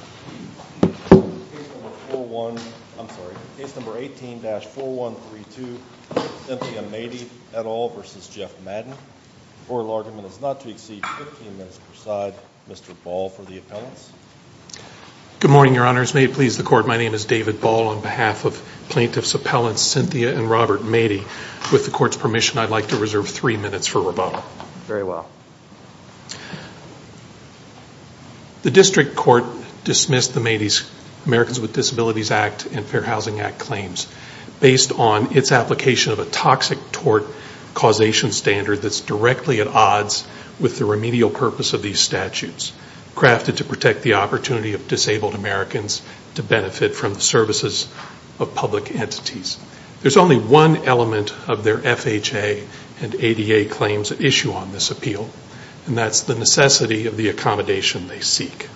The case number 18-4132, Cynthia Madej et al. v. Jeff Maiden. The oral argument is not to exceed 15 minutes per side. Mr. Ball for the appellants. Good morning, your honors. May it please the court, my name is David Ball on behalf of plaintiffs' appellants Cynthia and Robert Madej. With the court's permission, I'd like to reserve three minutes for rebuttal. Very well. The district court dismissed the Americans with Disabilities Act and Fair Housing Act claims based on its application of a toxic tort causation standard that's directly at odds with the remedial purpose of these statutes, crafted to protect the opportunity of disabled Americans to benefit from the services of public entities. There's only one element of their FHA and ADA claims issue on this appeal, and that's the necessity of the accommodation they seek.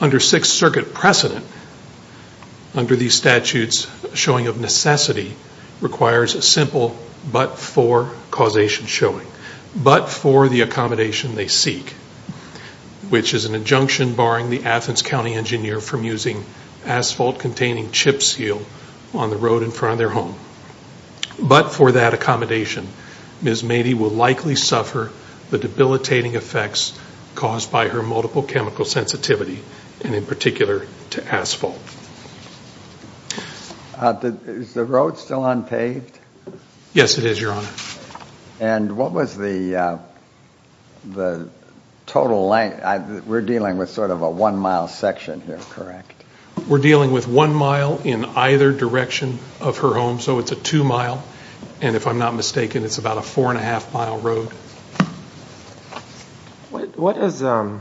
Under Sixth Circuit precedent, under these statutes, showing of necessity requires a simple but-for causation showing. But-for the accommodation they seek, which is an injunction barring the Athens County engineer from using asphalt containing chip seal on the road in front of their home. But-for that accommodation, Ms. Madej will likely suffer the debilitating effects caused by her multiple chemical sensitivity, and in particular, to asphalt. Is the road still unpaved? Yes, it is, your honor. And what was the total length? We're dealing with sort of a one-mile section here, correct? We're dealing with one mile in either direction of her home, so it's a two-mile, and if I'm not mistaken, it's about a four-and-a-half-mile road. What is, I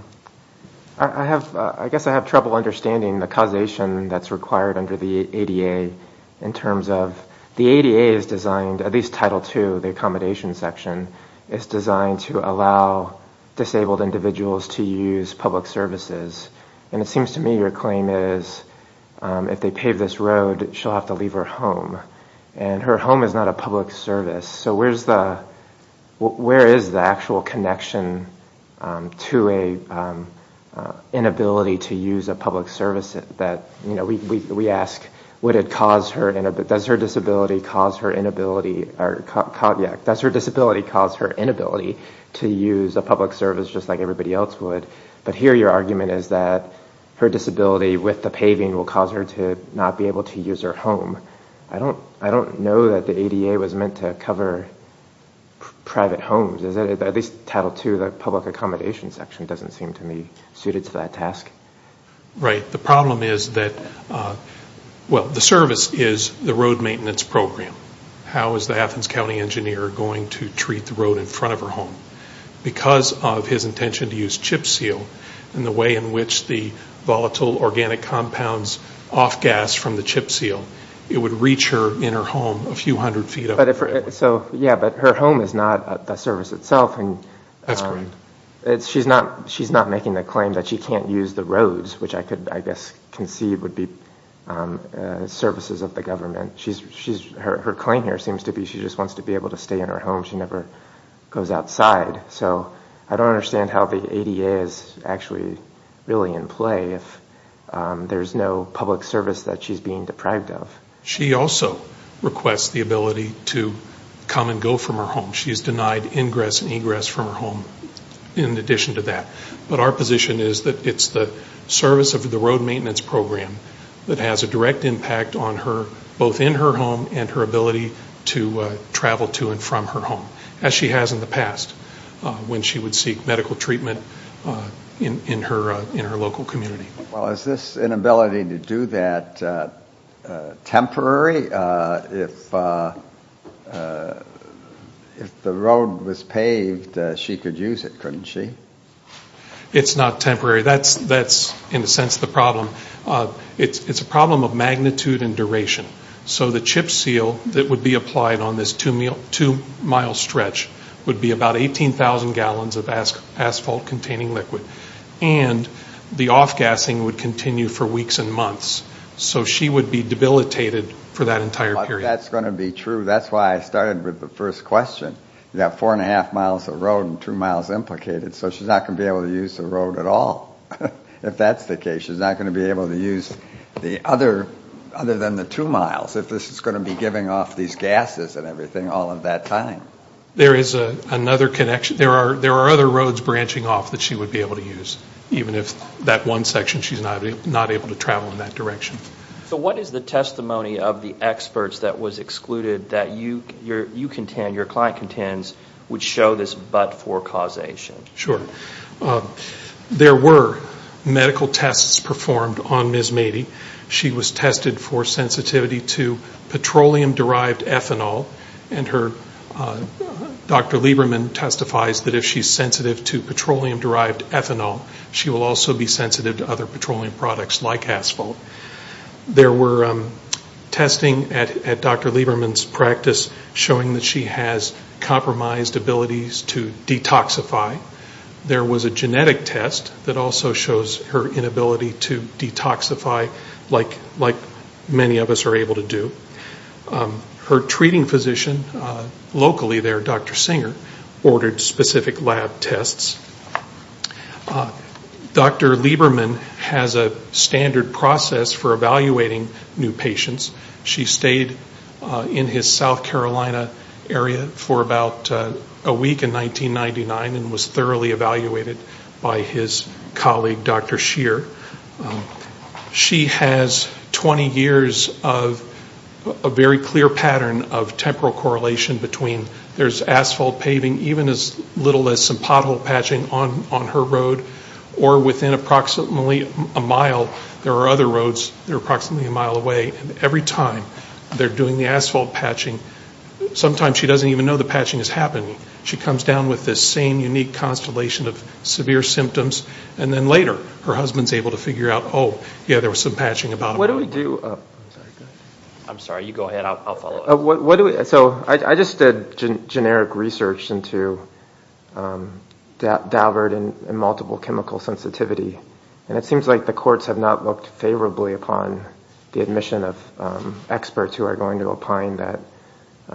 guess I have trouble understanding the causation that's required under the ADA in terms of, the ADA is designed, at least Title II, the accommodation section, is designed to allow disabled individuals to use public services. And it seems to me your claim is if they pave this road, she'll have to leave her home, and her home is not a public service. So where is the actual connection to an inability to use a public service that, you know, we ask, does her disability cause her inability to use a public service just like everybody else would? But here your argument is that her disability with the paving will cause her to not be able to use her home. I don't know that the ADA was meant to cover private homes, is it? At least Title II, the public accommodation section, doesn't seem to me suited to that task. Right. The problem is that, well, the service is the road maintenance program. How is the Athens County engineer going to treat the road in front of her home? Because of his intention to use chip seal, and the way in which the volatile organic compounds off-gas from the chip seal, it would reach her in her home a few hundred feet up the road. So yeah, but her home is not the service itself, and she's not making the claim that she can't use the roads, which I could, I guess, conceive would be services of the government. Her claim here seems to be she just wants to be able to stay in her home. She never goes outside. So I don't understand how the ADA is actually really in play if there's no public service that she's being deprived of. She also requests the ability to come and go from her home. She's denied ingress and of the road maintenance program that has a direct impact on her, both in her home and her ability to travel to and from her home, as she has in the past when she would seek medical treatment in her local community. Well, is this inability to do that temporary? If the road was paved, she could use it, couldn't she? It's not temporary. That's, in a sense, the problem. It's a problem of magnitude and duration. So the chip seal that would be applied on this two-mile stretch would be about 18,000 gallons of asphalt-containing liquid. And the off-gassing would continue for weeks and months. So she would be debilitated for that entire period. That's going to be true. That's why I started with the first question. You have four and she's not going to be able to use the road at all, if that's the case. She's not going to be able to use the other, other than the two miles, if this is going to be giving off these gases and everything all of that time. There is another connection. There are other roads branching off that she would be able to use, even if that one section she's not able to travel in that direction. So what is the testimony of the experts that was excluded that you contend, your client contends, would show this but-for causation? Sure. There were medical tests performed on Ms. Mady. She was tested for sensitivity to petroleum-derived ethanol. And her, Dr. Lieberman testifies that if she's sensitive to petroleum-derived ethanol, she will also be sensitive to other petroleum products like asphalt. There were testing at Dr. Lieberman's practice showing that she has compromised abilities to detoxify. There was a genetic test that also shows her inability to detoxify like many of us are able to do. Her treating physician locally there, Dr. Singer, ordered specific lab tests. Dr. Lieberman has a standard process for evaluating new patients. She stayed in his South Carolina area for about a week in 1999 and was thoroughly evaluated by his colleague, Dr. Shear. She has 20 years of a very clear pattern of temporal correlation between there's asphalt paving, even as little as some pothole patching on her road, or within approximately a mile there are other roads that are approximately a mile away, and every time they're doing the asphalt patching, sometimes she doesn't even know the patching is happening. She comes down with this same unique constellation of severe symptoms, and then later her husband is able to figure out, oh, yeah, there was some patching about a mile away. I'm sorry. You go ahead. I'll follow up. I just did generic research into Daubert and multiple chemical sensitivity, and it seems like the courts have not looked favorably upon the admission of experts who are going to opine that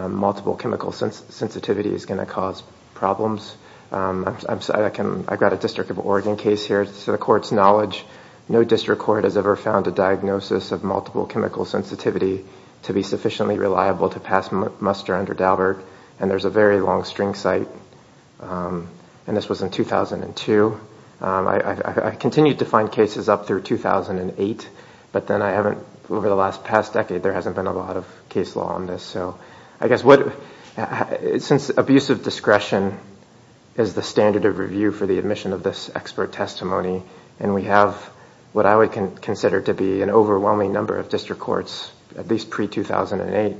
multiple chemical sensitivity is going to cause problems. I've got a District of Oregon case here. To the court's knowledge, no district court has ever found a diagnosis of multiple chemical sensitivity to be sufficiently reliable to pass muster under Daubert, and there's a very long string cite, and this was in 2002. I continued to find cases up through 2008, but then I haven't, over the last past decade, there hasn't been a lot of case law on this, so I guess what, since abusive discretion is the standard of review for the admission of this expert testimony, and we have what I would consider to be an overwhelming number of district courts, at least pre-2008,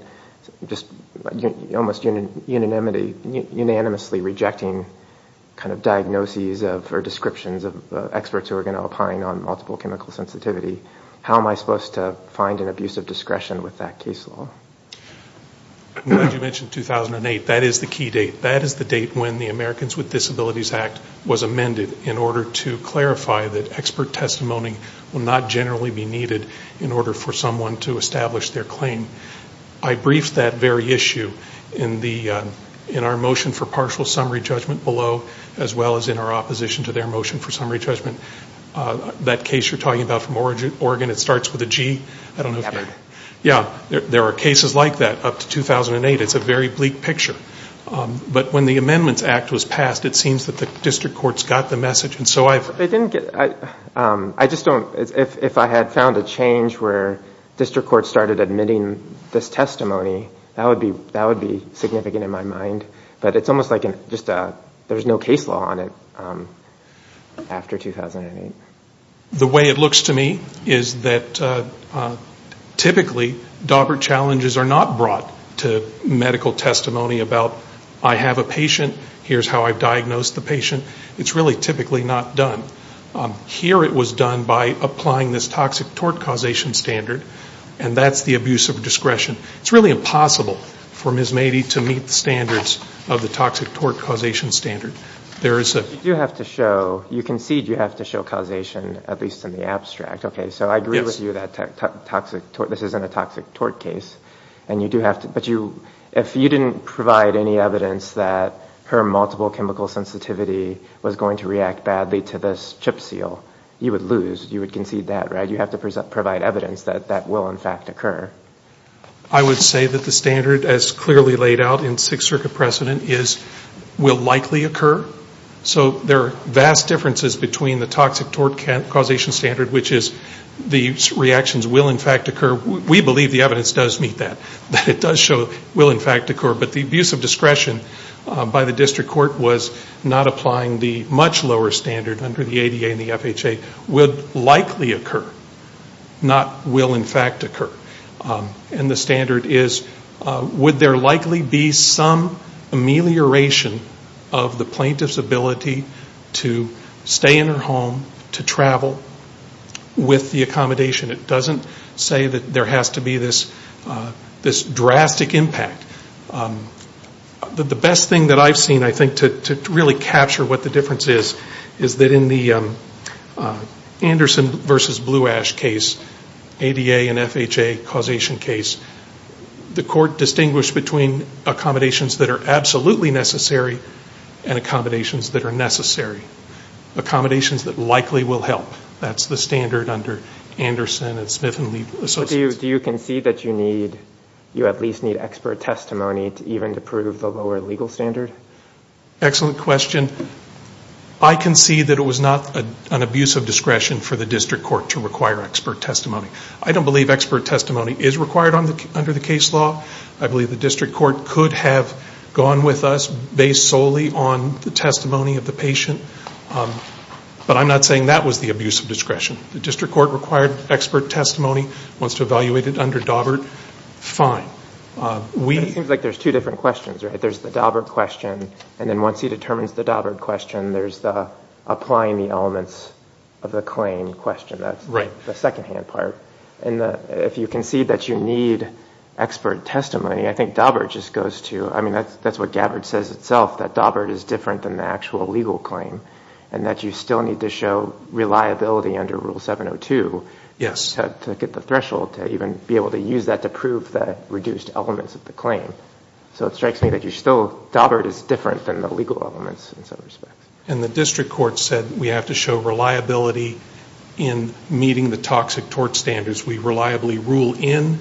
just almost unanimity, unanimously rejecting kind of diagnoses or descriptions of experts who are going to opine on multiple chemical sensitivity, how am I supposed to find an abusive discretion with that case law? I'm glad you mentioned 2008. That is the key date. That is the date when the Americans with Disabilities Act was amended in order to clarify that expert testimony will not generally be needed in order for someone to establish their claim. I briefed that very issue in our motion for partial summary judgment below, as well as in our opposition to their motion for summary judgment. That case you're talking about from Oregon, it starts with a G. There are cases like that up to 2008. It's a very bleak picture, but when the Amendments Act was passed, it seems that the district courts got the message, and so I've... If I had found a change where district courts started admitting this testimony, that would not be significant in my mind, but it's almost like there's no case law on it after 2008. The way it looks to me is that typically, Daubert challenges are not brought to medical testimony about I have a patient, here's how I've diagnosed the patient. It's really typically not done. Here it was done by applying this toxic tort causation standard, and that's the abuse of discretion. It's really impossible for Ms. Mady to meet the standards of the toxic tort causation standard. There is a... You do have to show, you concede you have to show causation, at least in the abstract. Okay, so I agree with you that this isn't a toxic tort case, and you do have to, but if you didn't provide any evidence that her multiple chemical sensitivity was going to react badly to this chip seal, you would lose. You would concede that, right? You have to be clear. I would say that the standard, as clearly laid out in Sixth Circuit precedent, is will likely occur. So there are vast differences between the toxic tort causation standard, which is the reactions will in fact occur. We believe the evidence does meet that, that it does show will in fact occur, but the abuse of discretion by the district court was not applying the much lower standard under the ADA and the FHA would likely occur, not will in fact occur. And the standard is would there likely be some amelioration of the plaintiff's ability to stay in her home, to travel with the accommodation. It doesn't say that there has to be this drastic impact. The best thing that I've seen, I think, to really capture what the difference is, is that in the Anderson v. Blue Ash case, ADA and FHA causation case, the court distinguished between accommodations that are absolutely necessary and accommodations that are necessary. Accommodations that likely will help. That's the standard under Anderson and Smith & Lee Associates. Do you concede that you at least need expert testimony even to prove the lower legal standard? Excellent question. I concede that it was not an abuse of discretion for the district court to require expert testimony. I don't believe expert testimony is required under the case law. I believe the district court could have gone with us based solely on the testimony of the patient, but I'm not saying that was the abuse of discretion. The district court required expert testimony, wants to evaluate it under Dawbert, fine. It seems like there's two different questions, right? There's the Dawbert question, and then once he determines the Dawbert question, there's the applying the elements of the claim question. That's the secondhand part. If you concede that you need expert testimony, I think Dawbert just goes to, I mean, that's what Gabbard says itself, that Dawbert is different than the actual legal claim, and that you still need to show reliability under Rule 702 to get the threshold to even be able to use that to prove the reduced elements of the claim. So it strikes me that you're still, Dawbert is different than the legal elements in some respects. And the district court said we have to show reliability in meeting the toxic tort standards. We reliably rule in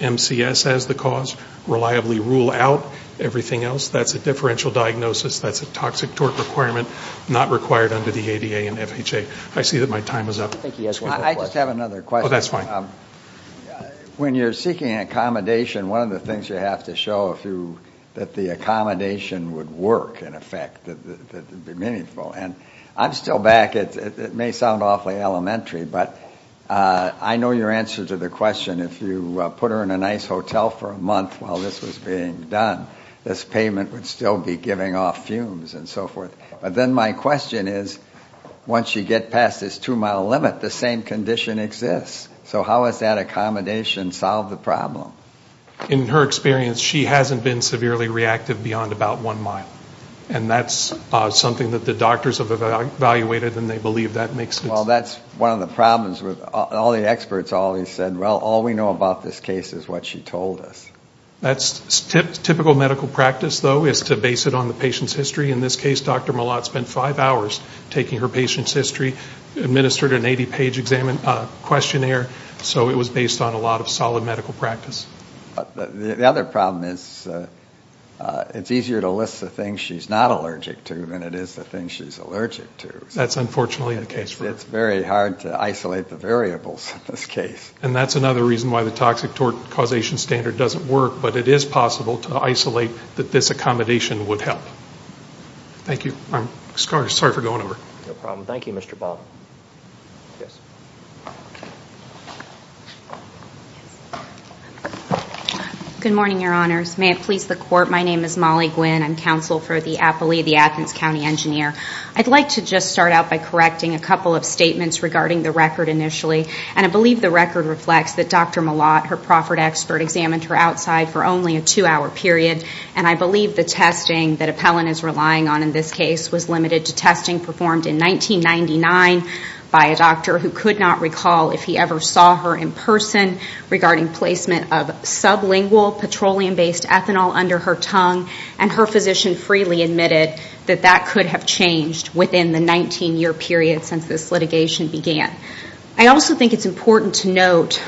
MCS as the cause, reliably rule out everything else. That's a differential diagnosis, that's a toxic tort requirement, not required under the ADA and FHA. I see that my time is up. I just have another question. Oh, that's fine. When you're seeking accommodation, one of the things you have to show that the accommodation would work, in effect, that would be meaningful. And I'm still back, it may sound awfully elementary, but I know your answer to the question, if you put her in a nice hotel for a month while this was being done, this payment would still be giving off fumes and so forth. But then my question is, once you get past this two-mile limit, the same condition exists. So how has that accommodation solved the problem? In her experience, she hasn't been severely reactive beyond about one mile. And that's something that the doctors have evaluated and they believe that makes sense. Well, that's one of the problems. All the experts always said, well, all we know about this case is what she told us. That's typical medical practice, though, is to base it on the patient's history. In this case, it was five hours, taking her patient's history, administered an 80-page questionnaire, so it was based on a lot of solid medical practice. The other problem is it's easier to list the things she's not allergic to than it is the things she's allergic to. That's unfortunately the case. It's very hard to isolate the variables in this case. And that's another reason why the toxic causation standard doesn't work, but it is possible to isolate that this accommodation would help. Thank you. I'm sorry for going over. No problem. Thank you, Mr. Bob. Yes. Good morning, Your Honors. May it please the Court. My name is Molly Gwynn. I'm counsel for the Appley, the Athens County Engineer. I'd like to just start out by correcting a couple of statements regarding the record initially. And I believe the record reflects that Dr. Malott, her proffered expert, examined her outside for only a two-hour period. And I believe the testing that Appellant is relying on in this case was limited to testing performed in 1999 by a doctor who could not recall if he ever saw her in person regarding placement of sublingual petroleum-based ethanol under her tongue. And her physician freely admitted that that could have changed within the 19-year period since this litigation began. I also think it's important to note,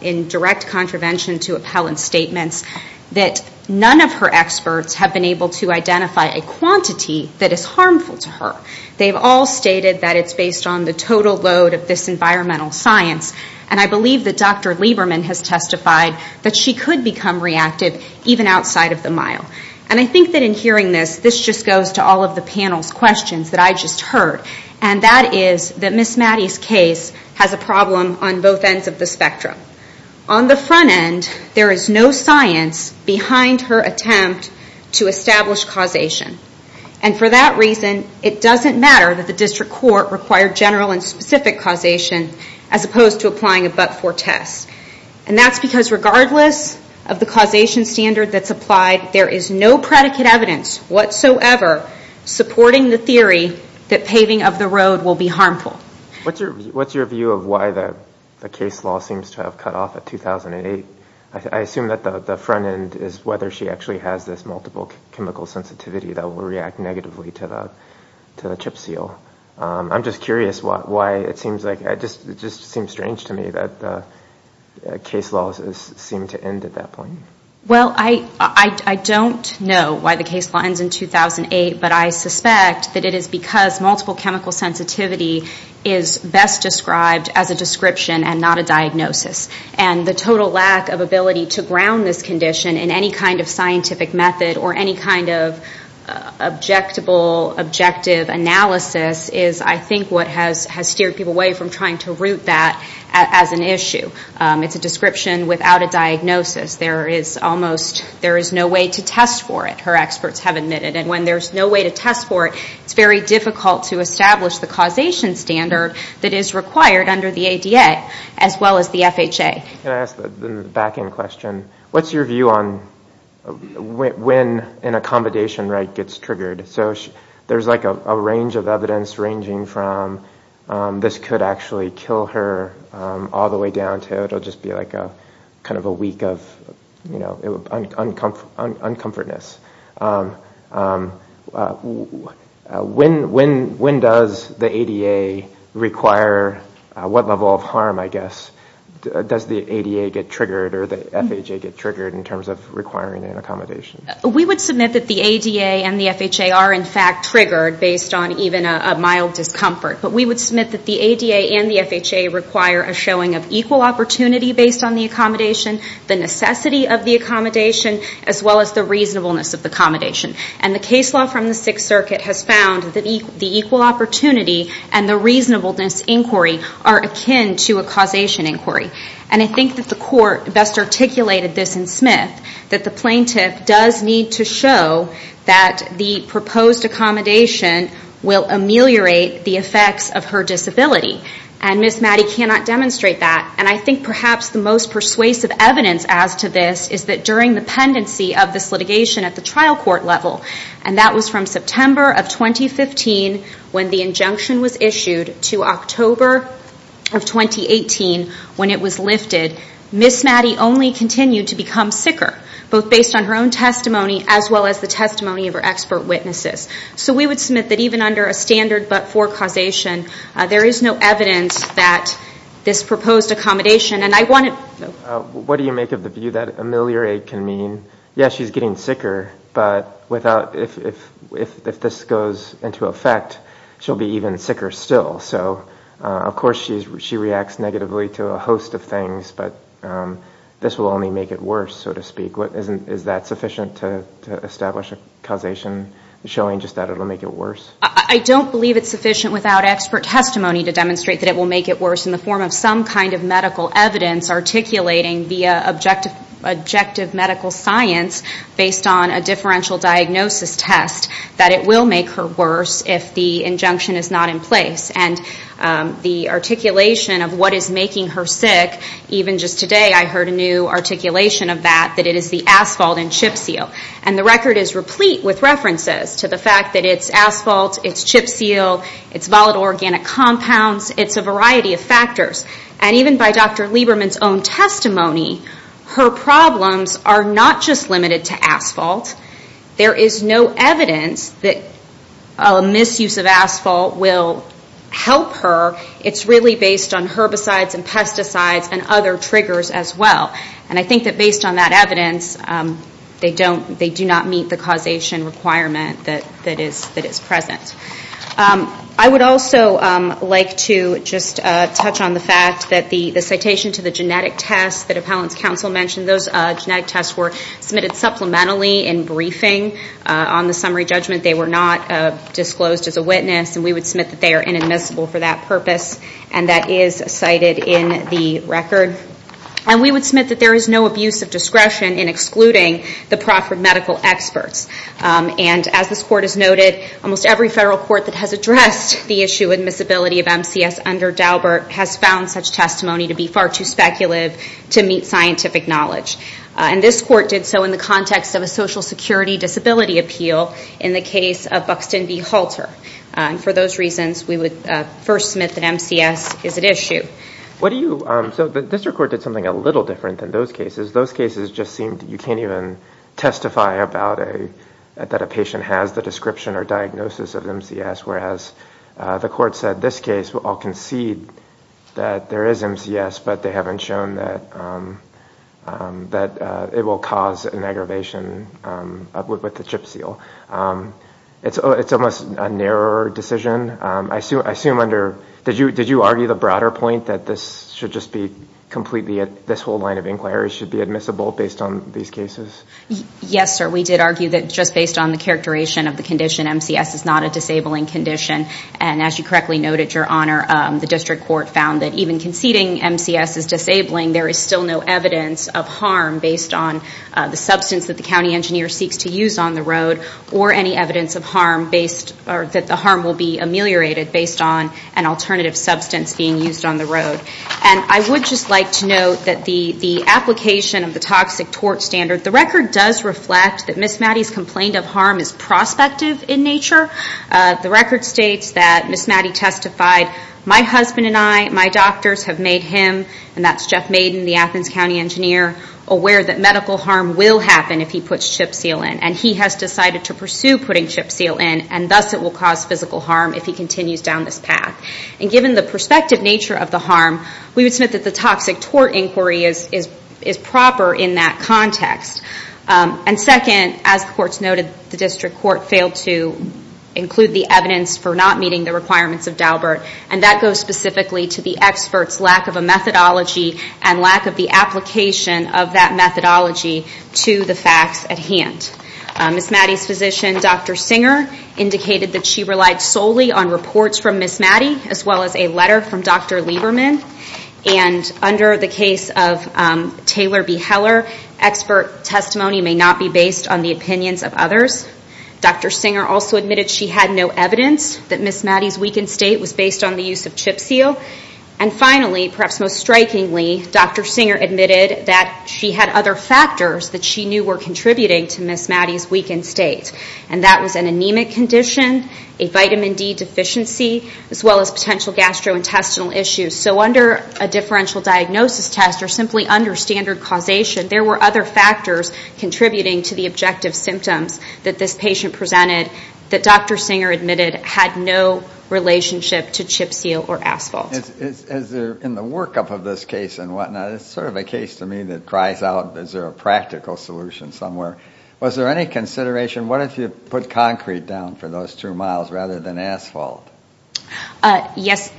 in direct contravention to Appellant's statements, that none of her experts have been able to identify a quantity that is harmful to her. They've all stated that it's based on the total load of this environmental science. And I believe that Dr. Lieberman has testified that she could become reactive even outside of the mile. And I think that in hearing this, this just goes to all of the panel's questions that I just heard. And that is that Ms. Maddie's case has a problem on both ends of the spectrum. On the front end, there is no science behind her attempt to establish causation. And for that reason, it doesn't matter that the District Court required general and specific causation as opposed to applying a but-for test. And that's because regardless of the causation standard that's applied, there is no predicate evidence whatsoever supporting the theory that paving of the road will be harmful. What's your view of why the case law seems to have cut off at 2008? I assume that the front end is whether she actually has this multiple chemical sensitivity that will react negatively to the chip seal. I'm just curious why it seems like, it just seems strange to me that the case law seemed to end at that point. Well, I don't know why the case law ends in 2008, but I suspect that it is because multiple chemical sensitivity is best described as a description and not a diagnosis. And the total lack of ability to ground this condition in any kind of scientific method or any kind of objectable, objective analysis is, I think, what has steered people away from trying to root that as an issue. It's a description without a diagnosis. There is almost, there is no way to test for it, her experts have admitted. And when there's no way to test for it, it's very difficult to establish the causation standard that is required under the ADA as well as the FHA. Can I ask the back end question? What's your view on when an accommodation right gets triggered? So there's like a range of evidence ranging from this could actually kill her all the way down to it'll just be like a kind of a week of, you know, uncomfort, uncomfortness. When does the ADA require, what level of harm, I guess, does the ADA get triggered or the FHA get triggered in terms of requiring an accommodation? We would submit that the ADA and the FHA are in fact triggered based on even a mild discomfort. But we would submit that the ADA and the FHA require a showing of equal opportunity based on the accommodation, the necessity of the accommodation, as well as the reasonableness of the accommodation. And the case law from the Sixth Circuit has found that the equal opportunity and the reasonableness inquiry are akin to a causation inquiry. And I think that the court best articulated this in Smith, that the plaintiff does need to show that the proposed accommodation will ameliorate the effects of her disability. And Ms. Maddy cannot demonstrate that. And I think perhaps the most persuasive evidence as to this is that during the pendency of this litigation at the trial court level, and that was from September of 2015 when the injunction was issued to October of 2018 when it was lifted, Ms. Maddy only continued to become sicker, both based on her own testimony as well as the testimony of her expert witnesses. So we would submit that even under a standard but-for causation, there is no evidence that this proposed accommodation, and I want to What do you make of the view that ameliorate can mean, yes, she's getting sicker, but without, if this goes into effect, she'll be even sicker still. So of course she reacts negatively to a host of things, but this will only make it worse, so to speak. Is that sufficient to establish a causation showing just that it will make it worse? I don't believe it's sufficient without expert testimony to demonstrate that it will make it worse in the form of some kind of medical evidence articulating via objective medical science based on a differential diagnosis test that it will make her worse if the injunction is not in place. And the articulation of what is making her sick, even just today I heard a new articulation of that, that it is the asphalt and chip seal. And the record is replete with references to the fact that it's asphalt, it's chip seal, it's volatile organic compounds, it's a variety of factors. And even by Dr. Lieberman's own testimony, her problems are not just limited to asphalt. There is no evidence that a misuse of asphalt will help her. It's really based on herbicides and pesticides and other triggers as well. And I think that based on that evidence, they do not meet the causation requirement that is present. I would also like to just touch on the fact that the citation to the genetic test that Appellant's counsel mentioned, those genetic tests were submitted supplementally in briefing on the summary judgment. They were not disclosed as a witness. And we would submit that they are inadmissible for that purpose. And that is cited in the record. And we would submit that there is no abuse of discretion in excluding the proper medical experts. And as this Court has noted, almost every federal court that has addressed the issue of admissibility of MCS under Daubert has found such testimony to be far too speculative to meet scientific knowledge. And this Court did so in the context of a Social Security disability appeal in the case of Buxton v. Halter. And for those reasons, we would first submit that MCS is at issue. What do you, so the District Court did something a little different than those cases. Those cases just seemed, you can't even testify about a, that a patient has the description or diagnosis of MCS, whereas the Court said, this case, I'll concede that there is MCS, but they haven't shown that it will cause an aggravation with the CHIP seal. It's almost a narrower decision. I assume under, did you argue the broader point that this should just be completely, this whole line of inquiry should be admissible based on these cases? Yes, sir. We did argue that just based on the characterization of the condition, MCS is not a disabling condition. And as you correctly noted, Your Honor, the District Court found that even conceding MCS is disabling, there is still no evidence of harm based on the substance that the county engineer seeks to use on the road or any evidence of harm based, that the harm will be ameliorated based on an alternative substance being used on the road. I would just like to note that the application of the toxic tort standard, the record does reflect that Ms. Maddy's complaint of harm is prospective in nature. The record states that Ms. Maddy testified, my husband and I, my doctors have made him, and that's Jeff Maiden, the Athens County engineer, aware that medical harm will happen if he puts CHIP seal in. And he has decided to pursue putting CHIP seal in, and thus it will cause physical harm if he continues down this path. And given the prospective nature of the harm, we would note that the toxic tort inquiry is proper in that context. And second, as the Court has noted, the District Court failed to include the evidence for not meeting the requirements of Daubert, and that goes specifically to the expert's lack of a methodology and lack of the application of that methodology to the facts at hand. Ms. Maddy's physician, Dr. Singer, indicated that she relied solely on reports from Ms. Maddy, as well as a letter from Dr. Lieberman. And under the case of Taylor B. Heller, expert testimony may not be based on the opinions of others. Dr. Singer also admitted she had no evidence that Ms. Maddy's weakened state was based on the use of CHIP seal. And finally, perhaps most strikingly, Dr. Singer admitted that she had other factors that she knew were contributing to Ms. Maddy's weakened state, and that was an anemic condition, a vitamin D deficiency, as well as potential gastrointestinal issues. So under a differential diagnosis test, or simply under standard causation, there were other factors contributing to the objective symptoms that this patient presented that Dr. Singer admitted had no relationship to CHIP seal or asphalt. Is there, in the workup of this case and whatnot, it's sort of a case to me that cries out, is there a practical solution somewhere? Was there any consideration, what if you put concrete down for those two miles rather than asphalt? Yes,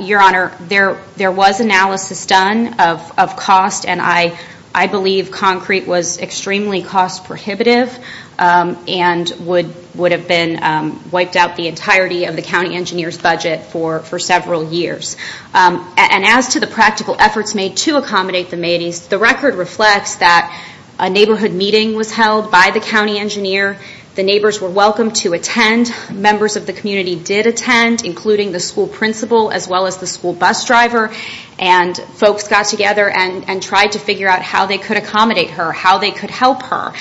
Your Honor, there was analysis done of cost and I believe concrete was extremely cost prohibitive and would have been wiped out the entirety of the county engineer's budget for several years. And as to the practical efforts made to accommodate the Maddy's, the record reflects that a neighborhood meeting was held by the county engineer. The neighbors were welcome to attend. Members of the community did attend, including the school principal as well as the school bus driver. And folks got together and tried to figure out how they could accommodate her, how they could help her.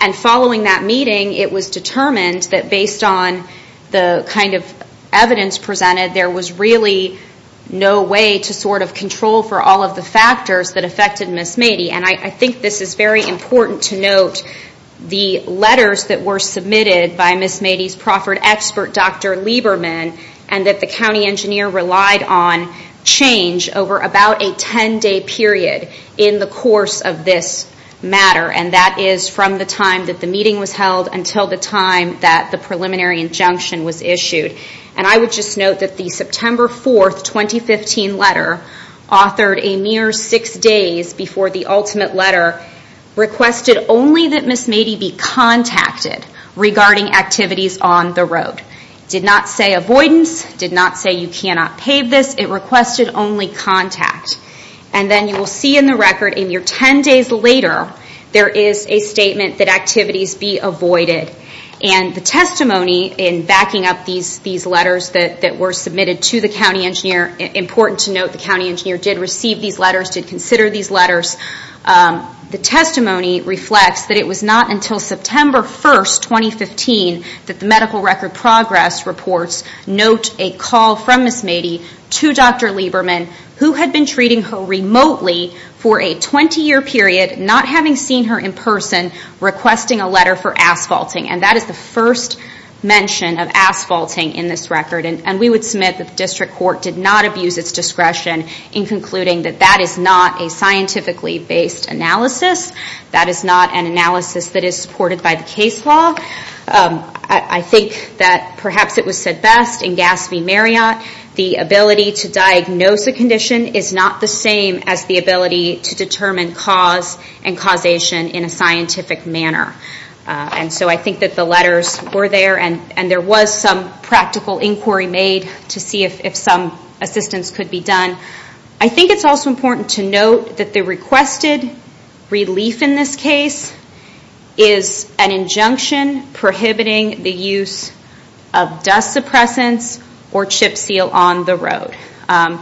And following that meeting, it was determined that based on the kind of evidence presented, there was really no way to sort of control for all of the factors that affected Ms. Maddy. And I think this is very important to note, the letters that were submitted by Ms. Maddy's proffered expert, Dr. Lieberman, and that the county engineer relied on change over about a 10-day period in the course of this matter. And that is from the time that the meeting was held until the time that the preliminary injunction was issued. And I would just note that the September 4th, 2015 letter authored a mere six days before the ultimate letter requested only that Ms. Maddy be contacted regarding activities on the road. It did not say avoidance. It did not say you cannot pave this. It requested only contact. And then you will see in the record a mere 10 days later, there is a statement that activities be avoided. And the testimony in backing up these letters that were submitted to the county engineer, important to note the county engineer did receive these letters, did consider these letters. The testimony reflects that it was not until September 1st, 2015 that the medical record progress reports note a call from Ms. Maddy to Dr. Lieberman who had been treating her remotely for a 20-year period, not having seen her in person, requesting a letter for asphalting. And that is the first mention of asphalting in this record. And we would submit that the district court did not abuse its discretion in concluding that that is not a scientifically based analysis. That is not an analysis that is supported by the case law. I think that perhaps it was said best in Gass v. Marriott, the ability to diagnose a condition is not the same as the ability to determine cause and causation in a scientific manner. And so I think that the letters were there and there was some practical inquiry made to see if some assistance could be done. I think it's also important to note that the requested relief in this case is an injunction prohibiting the use of dust suppressants or chip seal on the road. And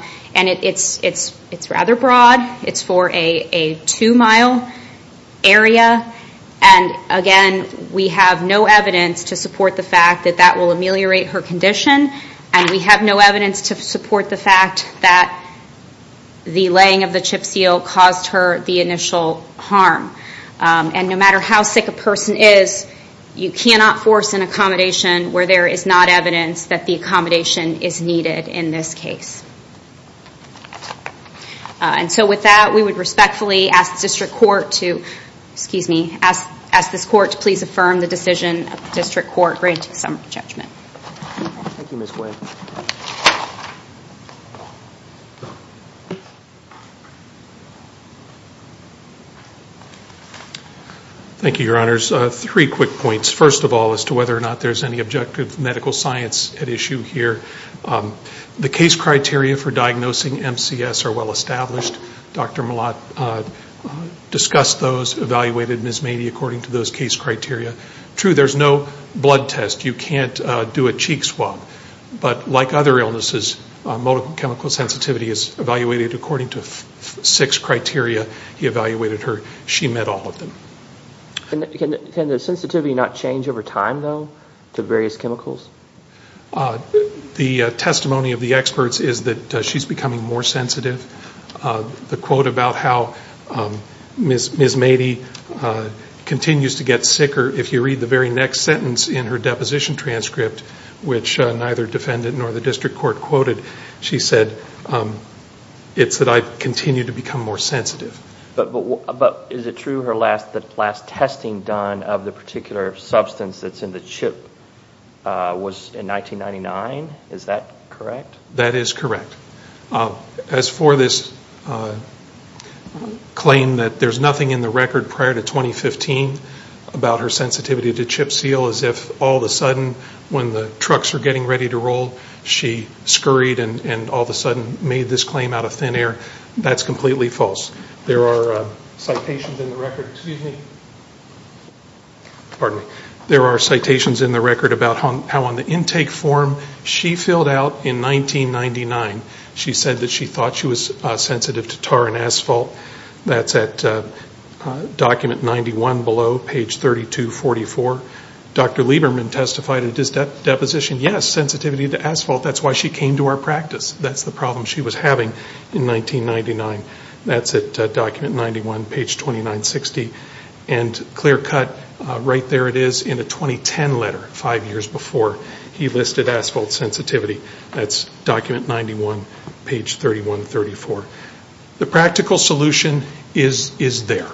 it's rather broad. It's for a two-mile area. And again, we have no evidence to support the fact that that will ameliorate her condition. And we have no evidence to support the fact that the laying of the chip seal caused her the initial harm. And no matter how sick a person is, you cannot force an accommodation where there is not evidence that the accommodation is needed in this case. And so with that, we would respectfully ask the district court to, excuse me, ask this court to please affirm the decision of the district court granting some judgment. Thank you, Your Honors. Three quick points. First of all, as to whether or not there's any objective medical science at issue here, the case criteria for diagnosing MCS are well established. Dr. Malott discussed those, evaluated Ms. Mady according to those case criteria. True, there's no blood test. You can't do a cheek swab. But like other illnesses, motor chemical sensitivity is evaluated according to six criteria. He evaluated her. She met all of them. Can the sensitivity not change over time, though, to various chemicals? The testimony of the experts is that she's becoming more sensitive. The quote about how Ms. Mady continues to get sicker, if you read the very next sentence in her deposition transcript, which neither defendant nor the district court quoted, she said, it's that I continue to become more sensitive. But is it true her last testing done of the particular substance that's in the chip was in 1999? Is that correct? That is correct. As for this claim that there's nothing in the record prior to 2015 about her sensitivity to Chipseal, as if all of a sudden when the trucks are getting ready to roll, she scurried and all of a sudden made this claim out of thin air, that's completely false. There are citations in the record about how on the intake form she filled out in 1999 she said that she thought she was sensitive to tar and asphalt. That's at document 91 below, page 3244. Dr. Lieberman testified in his deposition, yes, sensitivity to asphalt. That's why she came to our practice. That's the problem she was having in 1999. That's at document 91, page 2960. And clear cut, right there it is in a 2010 letter, five years before he listed asphalt sensitivity. That's document 91, page 3134. The practical solution is there.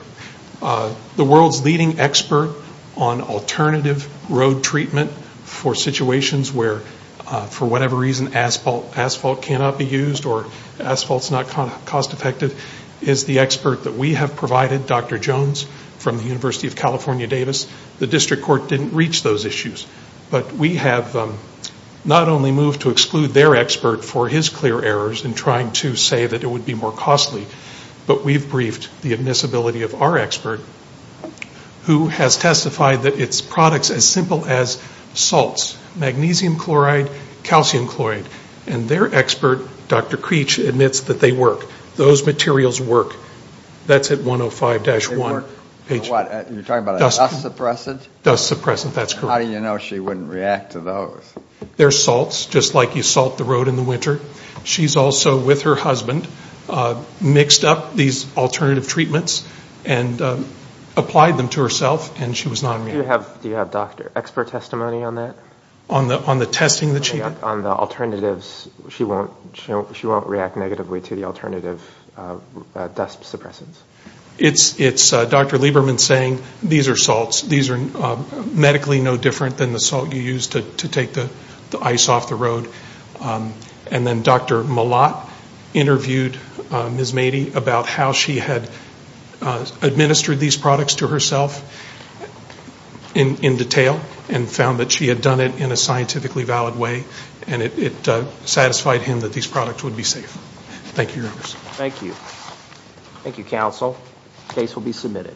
The world's leading expert on alternative road treatment for situations where for whatever reason asphalt cannot be used or asphalt is not cost effective is the expert that we have provided, Dr. Jones from the University of California, Davis. The district court didn't reach those issues. But we have not only moved to exclude their expert for his clear errors in trying to say that it would be more costly, but we've briefed the admissibility of our expert who has testified that it's products as simple as salts, magnesium chloride, calcium chloride. And their expert, Dr. Creech, admits that they work. Those materials work. That's at 105-1. You're talking about a dust suppressant? Dust suppressant, that's correct. How do you know she wouldn't react to those? They're salts, just like you salt the road in the winter. She's also, with her husband, mixed up these alternative treatments and applied them to herself and she was not immune. Do you have doctor expert testimony on that? On the testing that she did? On the alternatives, she won't react negatively to the alternative dust suppressants? It's Dr. Lieberman saying these are salts. These are medically no different than the salt you use to take the ice off the road. And then Dr. Malott interviewed Ms. Mady about how she had administered these products to herself in detail and found that she had done it in a scientifically valid way. And it satisfied him that these products would be safe. Thank you. Thank you. Thank you, counsel. The case will be submitted.